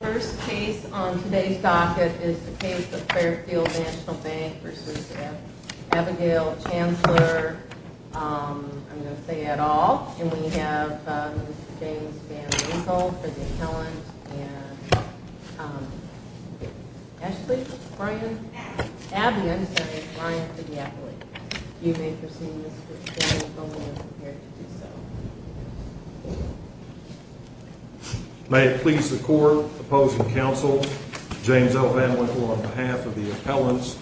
The first case on today's docket is the case of Fairfield National Bank v. Abigail Chansler I'm going to say it all, and we have Mr. James Van Winkle for the appellant and Ashley Bryan, Abby, I'm sorry, Bryan for the appellant. You may proceed, Mr. Van Winkle, we are prepared to do so. May it please the court, opposing counsel, James L. Van Winkle on behalf of the appellants,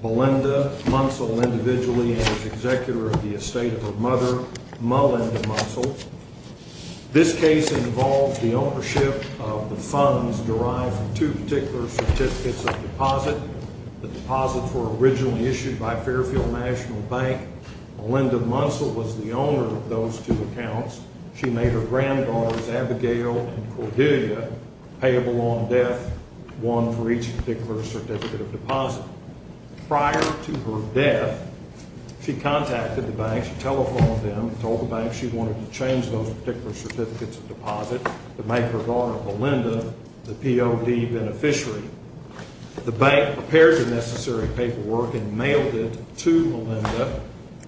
Belinda Munsell individually and as executor of the estate of her mother, Malinda Munsell. This case involves the ownership of the funds derived from two particular certificates of deposit. The deposits were originally issued by Fairfield National Bank. Malinda Munsell was the owner of those two accounts. She made her granddaughters, Abigail and Cordelia, payable on death, one for each particular certificate of deposit. Prior to her death, she contacted the bank, she telephoned them, told the bank she wanted to change those particular certificates of deposit to make her daughter, Malinda, the POD beneficiary. The bank prepared the necessary paperwork and mailed it to Malinda,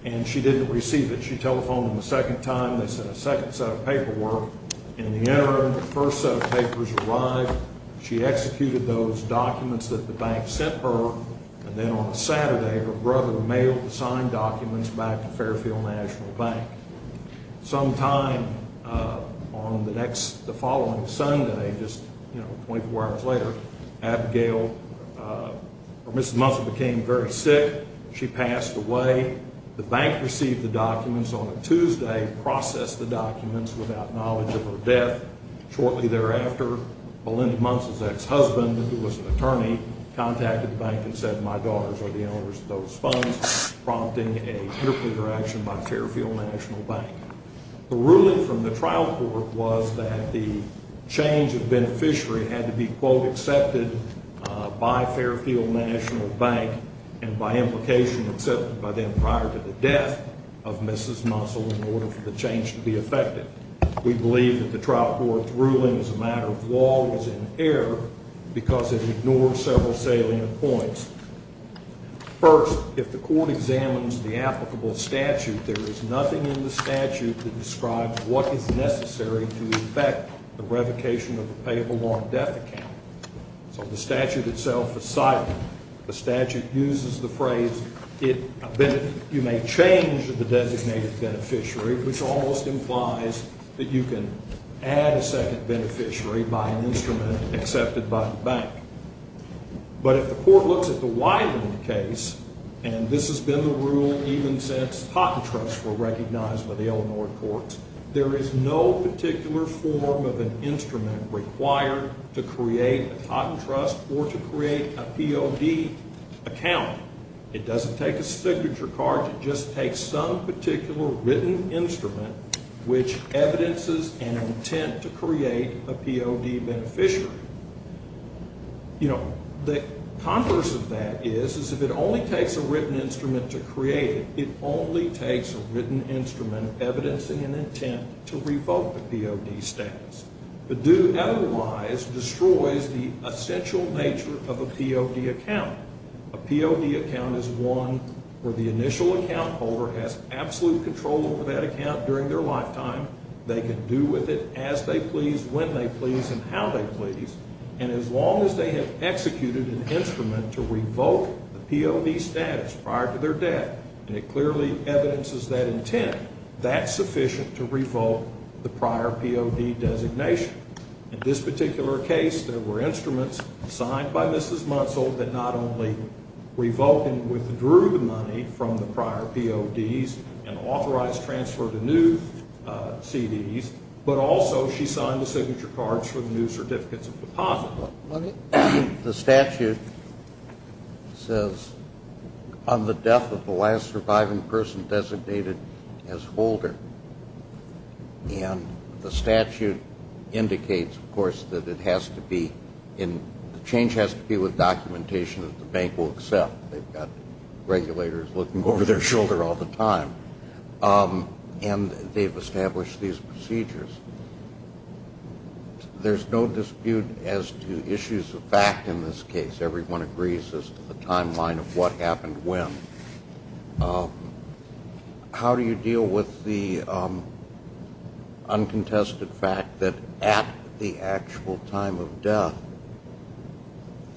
and she didn't receive it. She telephoned them a second time, they sent a second set of paperwork. In the interim, the first set of papers arrived, she executed those documents that the bank sent her, and then on a Saturday, her brother mailed the signed documents back to Fairfield National Bank. Sometime on the following Sunday, just 24 hours later, Mrs. Munsell became very sick, she passed away. The bank received the documents on a Tuesday, processed the documents without knowledge of her death. Shortly thereafter, Malinda Munsell's ex-husband, who was an attorney, contacted the bank and said, my daughters are the owners of those funds, prompting an interpreter action by Fairfield National Bank. The ruling from the trial court was that the change of beneficiary had to be, quote, accepted by Fairfield National Bank and by implication accepted by them prior to the death of Mrs. Munsell in order for the change to be effective. We believe that the trial court's ruling as a matter of law was in error because it ignored several salient points. First, if the court examines the applicable statute, there is nothing in the statute that describes what is necessary to effect the revocation of the payable loan death account. So the statute itself is silent. The statute uses the phrase, you may change the designated beneficiary, which almost implies that you can add a second beneficiary by an instrument accepted by the bank. But if the court looks at the Widening case, and this has been the rule even since Totten Trusts were recognized by the Illinois courts, there is no particular form of an instrument required to create a Totten Trust or to create a POD account. It doesn't take a signature card. It just takes some particular written instrument which evidences an intent to create a POD beneficiary. You know, the converse of that is, is if it only takes a written instrument to create it, it only takes a written instrument evidencing an intent to revoke the POD status. To do otherwise destroys the essential nature of a POD account. A POD account is one where the initial account holder has absolute control over that account during their lifetime. They can do with it as they please, when they please, and how they please. And as long as they have executed an instrument to revoke the POD status prior to their death, and it clearly evidences that intent, that's sufficient to revoke the prior POD designation. In this particular case, there were instruments signed by Mrs. Munsell that not only revoked and withdrew the money from the prior PODs and authorized transfer to new CDs, but also she signed the signature cards for the new certificates of deposit. The statute says, on the death of the last surviving person designated as holder, and the statute indicates, of course, that it has to be, and the change has to be with documentation that the bank will accept. They've got regulators looking over their shoulder all the time. And they've established these procedures. There's no dispute as to issues of fact in this case. Everyone agrees as to the timeline of what happened when. How do you deal with the uncontested fact that at the actual time of death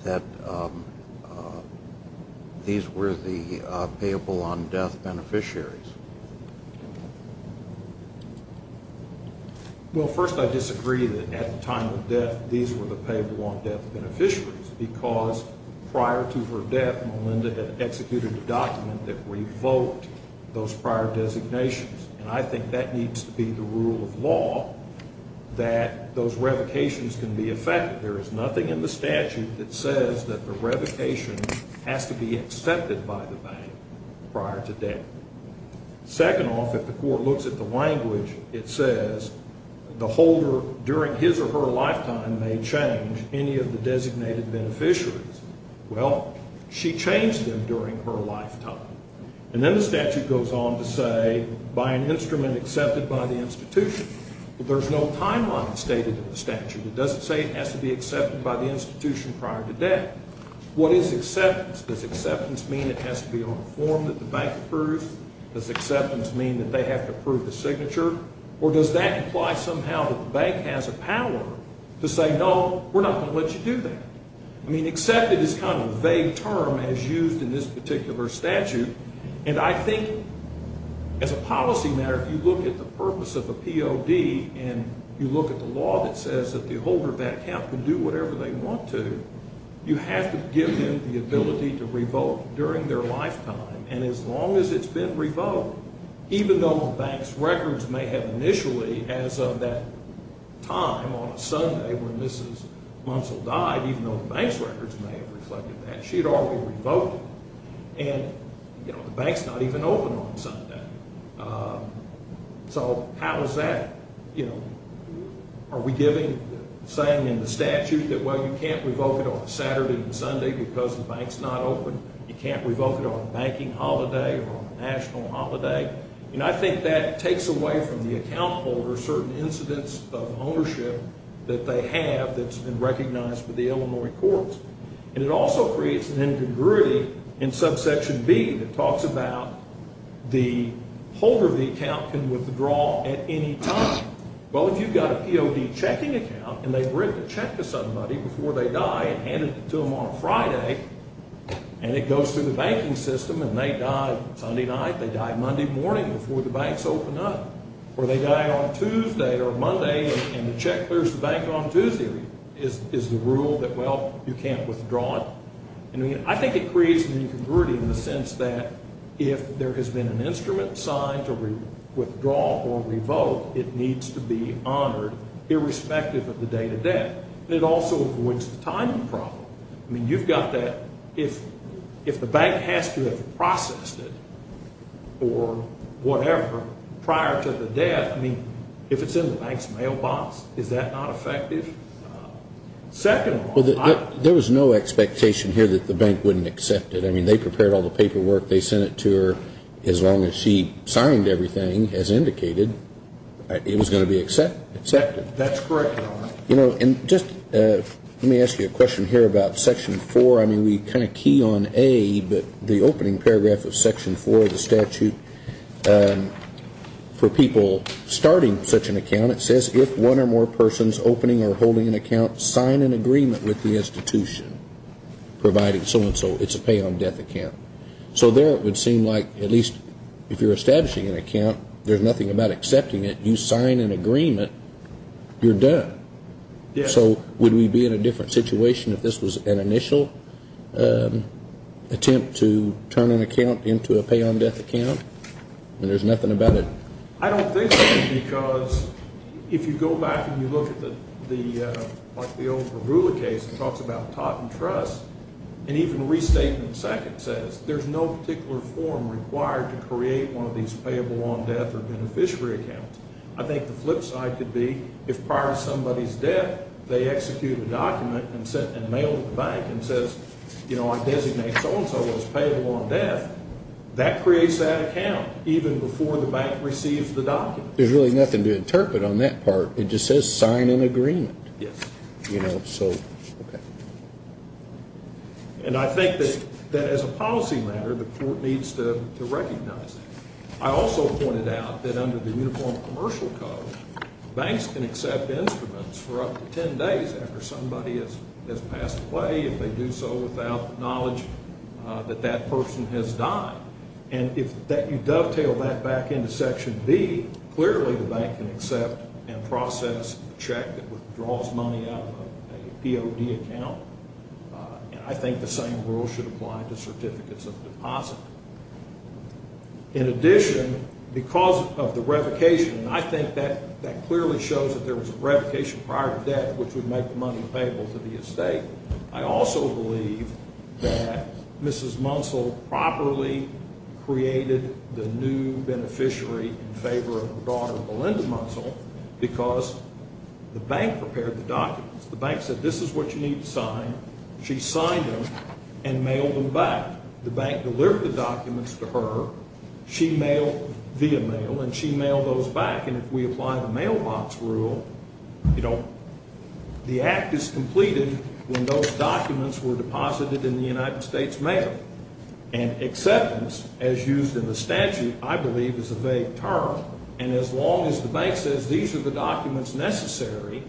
that these were the payable on death beneficiaries? Well, first I disagree that at the time of death these were the payable on death beneficiaries because prior to her death Melinda had executed a document that revoked those prior designations. And I think that needs to be the rule of law that those revocations can be effected. There is nothing in the statute that says that the revocation has to be accepted by the bank prior to death. Second off, if the court looks at the language, it says the holder during his or her lifetime may change any of the designated beneficiaries. Well, she changed them during her lifetime. And then the statute goes on to say by an instrument accepted by the institution. But there's no timeline stated in the statute. It doesn't say it has to be accepted by the institution prior to death. What is acceptance? Does acceptance mean it has to be on a form that the bank approves? Does acceptance mean that they have to approve the signature? Or does that imply somehow that the bank has a power to say no, we're not going to let you do that? I mean accepted is kind of a vague term as used in this particular statute. And I think as a policy matter if you look at the purpose of a POD and you look at the law that says that the holder of that account can do whatever they want to, you have to give them the ability to revoke during their lifetime. And as long as it's been revoked, even though the bank's records may have initially as of that time on a Sunday when Mrs. Munsell died, even though the bank's records may have reflected that, she had already revoked it. And, you know, the bank's not even open on Sunday. So how is that? Are we giving the same in the statute that, well, you can't revoke it on Saturday and Sunday because the bank's not open? You can't revoke it on a banking holiday or a national holiday? And I think that takes away from the account holder certain incidents of ownership that they have that's been recognized by the Illinois courts. And it also creates an incongruity in subsection B that talks about the holder of the account can withdraw at any time. Well, if you've got a POD checking account and they bring the check to somebody before they die and hand it to them on a Friday, and it goes through the banking system and they die Sunday night, they die Monday morning before the banks open up, or they die on Tuesday or Monday and the check clears the bank on Tuesday, is the rule that, well, you can't withdraw it? I mean, I think it creates an incongruity in the sense that if there has been an instrument signed to withdraw or revoke, it needs to be honored irrespective of the date of death. And it also avoids the timing problem. I mean, you've got that. If the bank has to have processed it or whatever prior to the death, I mean, if it's in the bank's mailbox, is that not effective? There was no expectation here that the bank wouldn't accept it. I mean, they prepared all the paperwork. They sent it to her. As long as she signed everything, as indicated, it was going to be accepted. That's correct, Your Honor. You know, and just let me ask you a question here about Section 4. I mean, we kind of key on A, but the opening paragraph of Section 4 of the statute for people starting such an account, it says if one or more persons opening or holding an account sign an agreement with the institution providing so-and-so, it's a pay on death account. So there it would seem like at least if you're establishing an account, there's nothing about accepting it. If you sign an agreement, you're done. Yes. So would we be in a different situation if this was an initial attempt to turn an account into a pay on death account, and there's nothing about it? I don't think so, because if you go back and you look at the, like, the old Pergula case, it talks about taught and trust, and even Restatement II says there's no particular form required to create one of these payable on death or beneficiary accounts. I think the flip side could be if prior to somebody's death they execute a document and mail it to the bank and says, you know, I designate so-and-so as payable on death, that creates that account even before the bank receives the document. There's really nothing to interpret on that part. It just says sign an agreement. Yes. You know, so, okay. And I think that as a policy matter, the court needs to recognize that. I also pointed out that under the Uniform Commercial Code, banks can accept instruments for up to ten days after somebody has passed away, if they do so without the knowledge that that person has died. And if you dovetail that back into Section B, clearly the bank can accept and process a check that withdraws money out of a POD account. And I think the same rule should apply to certificates of deposit. In addition, because of the revocation, and I think that clearly shows that there was a revocation prior to death which would make the money payable to the estate, I also believe that Mrs. Munsell properly created the new beneficiary in favor of her daughter, Melinda Munsell, because the bank prepared the documents. The bank said, this is what you need to sign. She signed them and mailed them back. The bank delivered the documents to her. She mailed via mail, and she mailed those back. And if we apply the mailbox rule, you know, the act is completed when those documents were deposited in the United States Mail. And acceptance, as used in the statute, I believe is a vague term. And as long as the bank says these are the documents necessary,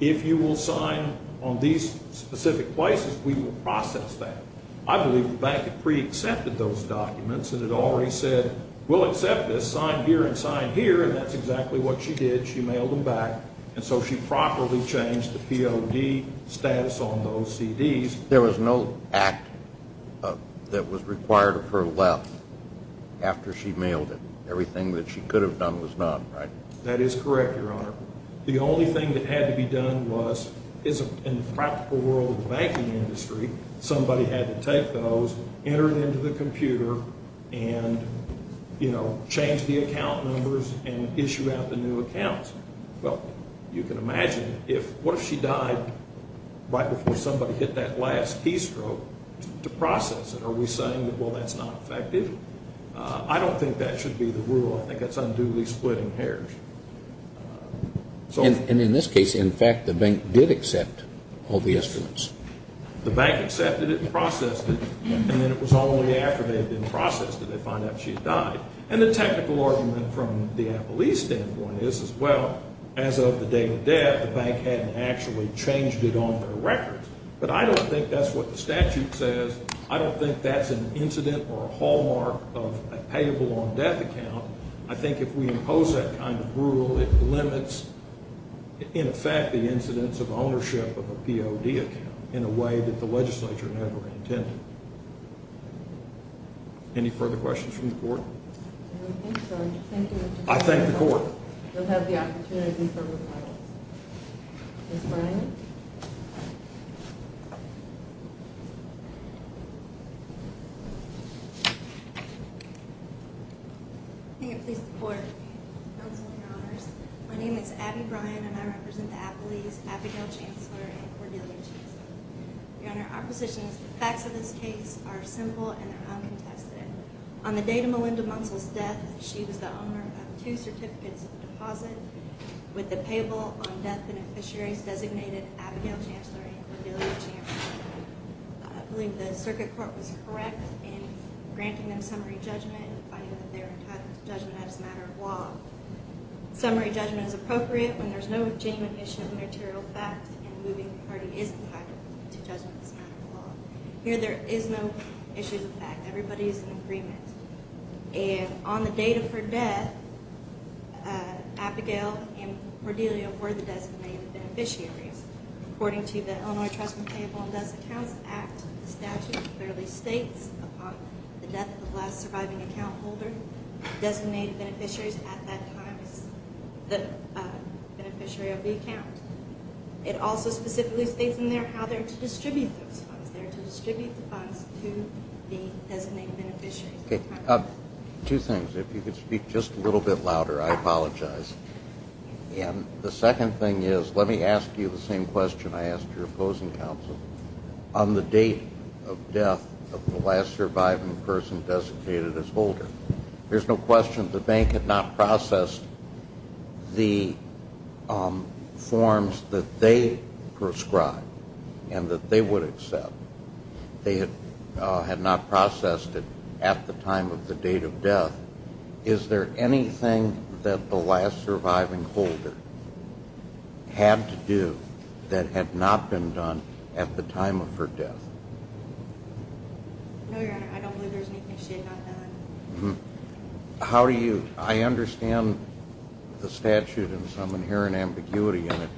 if you will sign on these specific places, we will process that. I believe the bank had pre-accepted those documents and had already said, we'll accept this, sign here and sign here, and that's exactly what she did. She mailed them back. And so she properly changed the POD status on those CDs. There was no act that was required of her left after she mailed it. Everything that she could have done was done, right? That is correct, Your Honor. The only thing that had to be done was, in the practical world of the banking industry, somebody had to take those, enter them into the computer, and, you know, change the account numbers and issue out the new accounts. Well, you can imagine, what if she died right before somebody hit that last keystroke to process it? Are we saying, well, that's not effective? I don't think that should be the rule. I think that's unduly splitting hairs. And in this case, in fact, the bank did accept all the instruments. The bank accepted it and processed it, and then it was only after they had been processed did they find out she had died. And the technical argument from the police standpoint is, well, as of the day of death, the bank hadn't actually changed it on their records. But I don't think that's what the statute says. I don't think that's an incident or a hallmark of a payable on death account. I think if we impose that kind of rule, it limits, in effect, the incidence of ownership of a POD account in a way that the legislature never intended. Any further questions from the court? I think so. Thank you, Mr. Chairman. I thank the court. You'll have the opportunity for rebuttals. Ms. Bryan. May it please the court. Counsel, Your Honors. My name is Abby Bryan, and I represent the Appleys, Abigail Chancellor, and Cordelia Chancellor. Your Honor, our position is the facts of this case are simple and they're uncontested. On the day of Melinda Munsell's death, she was the owner of two certificates of deposit with the payable on death beneficiaries designated Abigail Chancellor and Cordelia Chancellor. I believe the circuit court was correct in granting them summary judgment and finding that they were entitled to judgment as a matter of law. Summary judgment is appropriate when there's no genuine issue of material facts and moving the party is entitled to judgment as a matter of law. Here there is no issue of fact. Everybody is in agreement. And on the date of her death, Abigail and Cordelia were the designated beneficiaries. According to the Illinois Trust and Payable on Death Accounts Act, the statute clearly states upon the death of the last surviving account holder designated beneficiaries at that time as the beneficiary of the account. It also specifically states in there how they're to distribute those funds. Two things. If you could speak just a little bit louder, I apologize. And the second thing is let me ask you the same question I asked your opposing counsel. On the date of death of the last surviving person designated as holder, there's no question the bank had not processed the forms that they prescribed and that they would accept. They had not processed it at the time of the date of death. Is there anything that the last surviving holder had to do that had not been done at the time of her death? No, Your Honor, I don't believe there's anything she had not done. I understand the statute and some inherent ambiguity in it.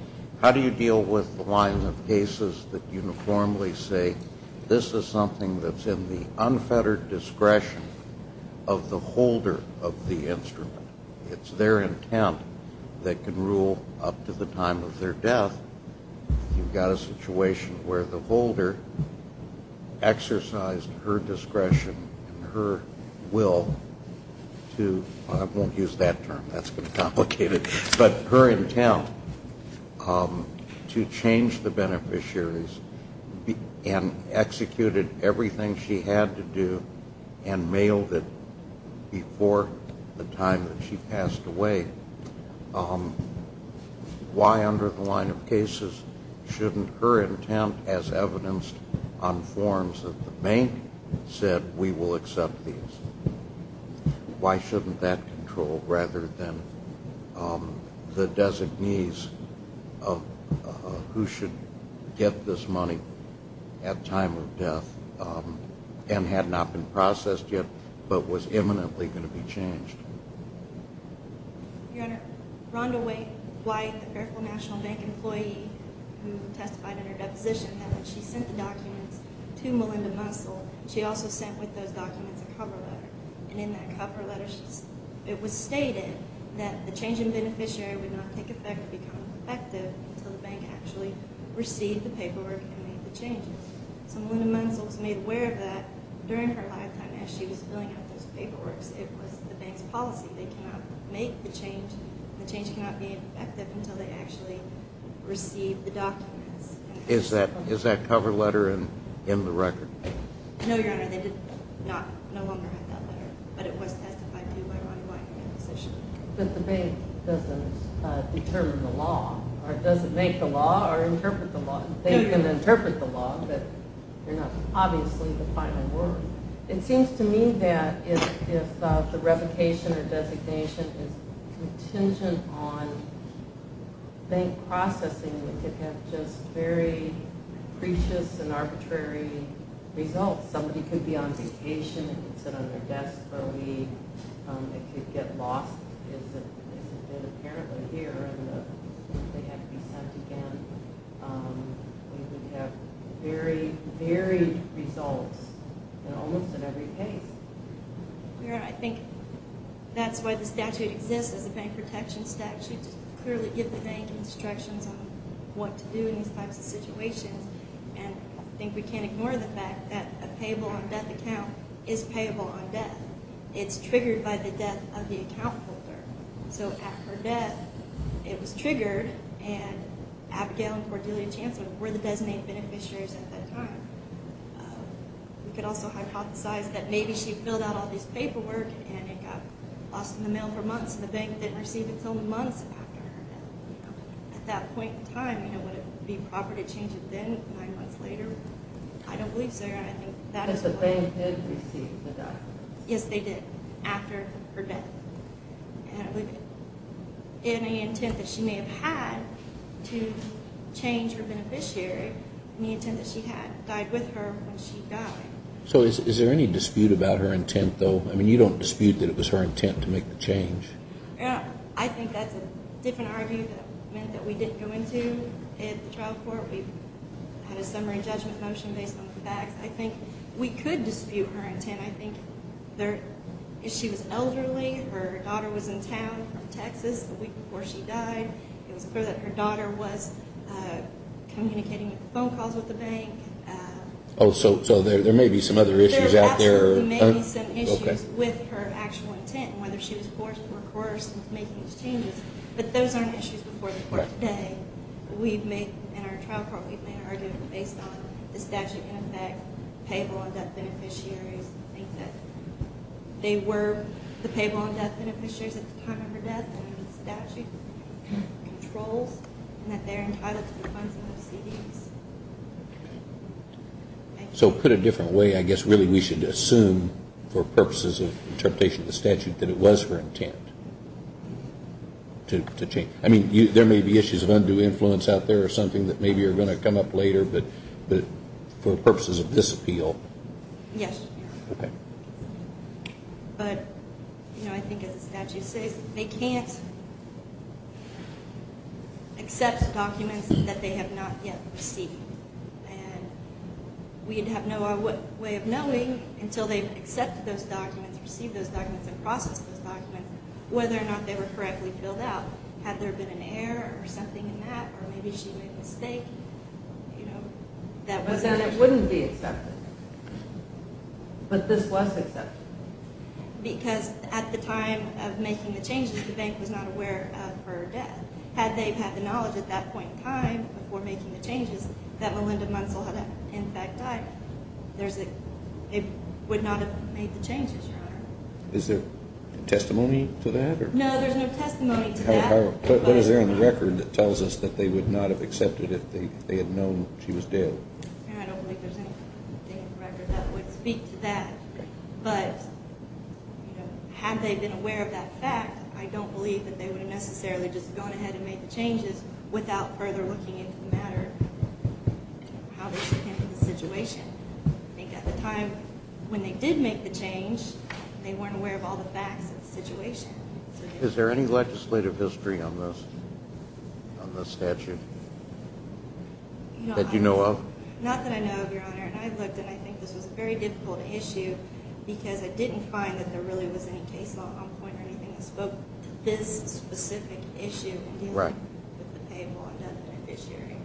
How do you deal with the lines of cases that uniformly say, this is something that's in the unfettered discretion of the holder of the instrument? It's their intent that can rule up to the time of their death. You've got a situation where the holder exercised her discretion and her will to, I won't use that term, that's going to complicate it, but her intent to change the beneficiaries and executed everything she had to do and mailed it before the time that she passed away. Why under the line of cases shouldn't her intent, as evidenced on forms that the bank said, we will accept these? Why shouldn't that control rather than the designees of who should get this money at time of death and had not been processed yet but was imminently going to be changed? Your Honor, Rhonda White, the Fairfield National Bank employee who testified in her deposition, she sent the documents to Melinda Muscle. She also sent with those documents a cover letter. And in that cover letter, it was stated that the change in beneficiary would not take effect or become effective until the bank actually received the paperwork and made the changes. So Melinda Muscle was made aware of that during her lifetime as she was filling out those paperwork. It was the bank's policy. They cannot make the change, the change cannot be effective until they actually receive the documents. Is that cover letter in the record? No, Your Honor. They no longer have that letter, but it was testified to by Rhonda White in her deposition. But the bank doesn't determine the law or doesn't make the law or interpret the law. They can interpret the law, but they're not obviously the final word. It seems to me that if the revocation or designation is contingent on bank processing, it could have just very precious and arbitrary results. Somebody could be on vacation and could sit on their desk for a week. It could get lost, as it did apparently here, and they had to be sent again. It would have very, very results in almost every case. Your Honor, I think that's why the statute exists as a bank protection statute, because you clearly give the bank instructions on what to do in these types of situations. And I think we can't ignore the fact that a payable-on-debt account is payable on debt. It's triggered by the debt of the account holder. So at her debt, it was triggered, and Abigail and Cordelia Chanson were the designated beneficiaries at that time. We could also hypothesize that maybe she filled out all this paperwork and it got lost in the mail for months, and the bank didn't receive it until months after her death. At that point in time, would it be proper to change it then, nine months later? I don't believe so, Your Honor. Because the bank did receive the document. Yes, they did, after her death. I don't believe it. Any intent that she may have had to change her beneficiary, any intent that she had died with her when she died. So is there any dispute about her intent, though? I mean, you don't dispute that it was her intent to make the change. I think that's a different argument that we didn't go into at the trial court. We had a summary judgment motion based on the facts. I think we could dispute her intent. I think she was elderly. Her daughter was in town from Texas the week before she died. It was clear that her daughter was communicating with phone calls with the bank. So there may be some other issues out there. There may be some issues with her actual intent, whether she was forced to work harder since making these changes. But those aren't issues before the court today. We've made, in our trial court, we've made an argument based on the statute in effect, payable on death beneficiaries. I think that they were the payable on death beneficiaries at the time of her death, and the statute controls that they're entitled to the funds and the CDs. So put a different way, I guess really we should assume for purposes of interpretation of the statute that it was her intent to change. I mean, there may be issues of undue influence out there or something that maybe are going to come up later, but for purposes of this appeal. Yes. Okay. But, you know, I think as the statute says, they can't accept documents that they have not yet received. And we'd have no way of knowing until they've accepted those documents, received those documents, and processed those documents, whether or not they were correctly filled out. Had there been an error or something in that, or maybe she made a mistake, you know. But then it wouldn't be accepted. But this was accepted. Because at the time of making the changes, the bank was not aware of her death. Had they had the knowledge at that point in time before making the changes that Melinda Munsell had in fact died, it would not have made the changes, Your Honor. Is there testimony to that? No, there's no testimony to that. What is there in the record that tells us that they would not have accepted it if they had known she was dead? I don't think there's anything in the record that would speak to that. Okay. But, you know, had they been aware of that fact, I don't believe that they would have necessarily just gone ahead and made the changes without further looking into the matter and how they came to the situation. I think at the time when they did make the change, they weren't aware of all the facts of the situation. Is there any legislative history on this statute that you know of? Not that I know of, Your Honor. I looked, and I think this was a very difficult issue because I didn't find that there really was any case law on point or anything that spoke to this specific issue in dealing with the payable undead beneficiary.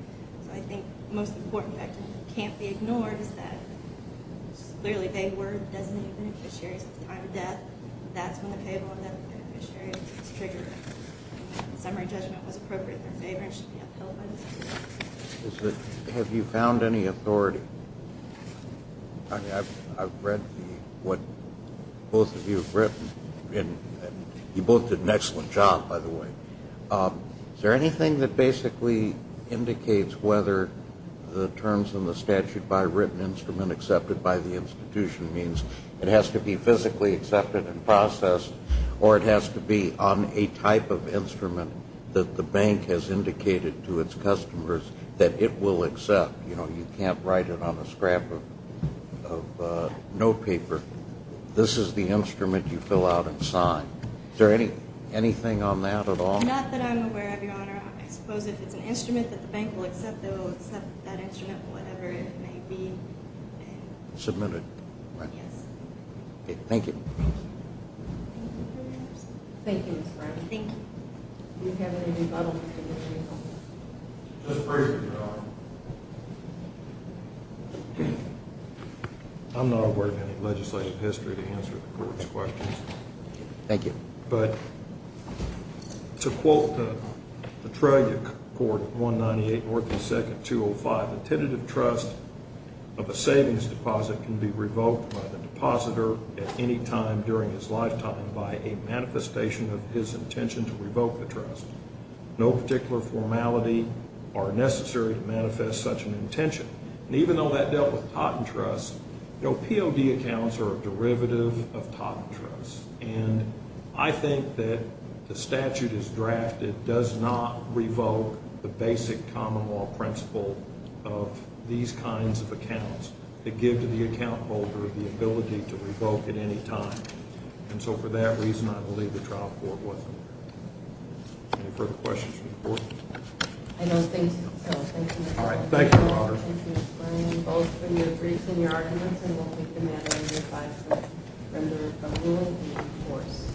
So I think the most important fact that can't be ignored is that clearly they were designated beneficiaries at the time of death. That's when the payable undead beneficiary was triggered. Summary judgment was appropriate in their favor and should be upheld by the state. Have you found any authority? I've read what both of you have written. You both did an excellent job, by the way. Is there anything that basically indicates whether the terms in the statute by written instrument accepted by the institution means it has to be physically accepted and processed or it has to be on a type of instrument that the bank has indicated to its customers that it will accept? You know, you can't write it on a scrap of notepaper. This is the instrument you fill out and sign. Is there anything on that at all? Not that I'm aware of, Your Honor. I suppose if it's an instrument that the bank will accept, they will accept that instrument for whatever it may be. Submit it. Yes. Thank you. Thank you, Mr. Brown. Thank you. Do you have any rebuttals? Just briefly, Your Honor. I'm not aware of any legislative history to answer the Court's questions. Thank you. But to quote the Tragic Court, 198 North and 2nd, 205, the tentative trust of a savings deposit can be revoked by the depositor at any time during his lifetime by a manifestation of his intention to revoke the trust. No particular formality are necessary to manifest such an intention. And even though that dealt with Totten Trust, POD accounts are a derivative of Totten Trust. And I think that the statute as drafted does not revoke the basic common law principle of these kinds of accounts that give to the account holder the ability to revoke at any time. And so for that reason, I believe the trial court wasn't there. Any further questions for the Court? I don't think so. Thank you, Your Honor. All right. Thank you, Your Honor. Thank you, Mr. Brown. Both for your briefs and your arguments, I don't think the matter is advised from the ruling to be enforced.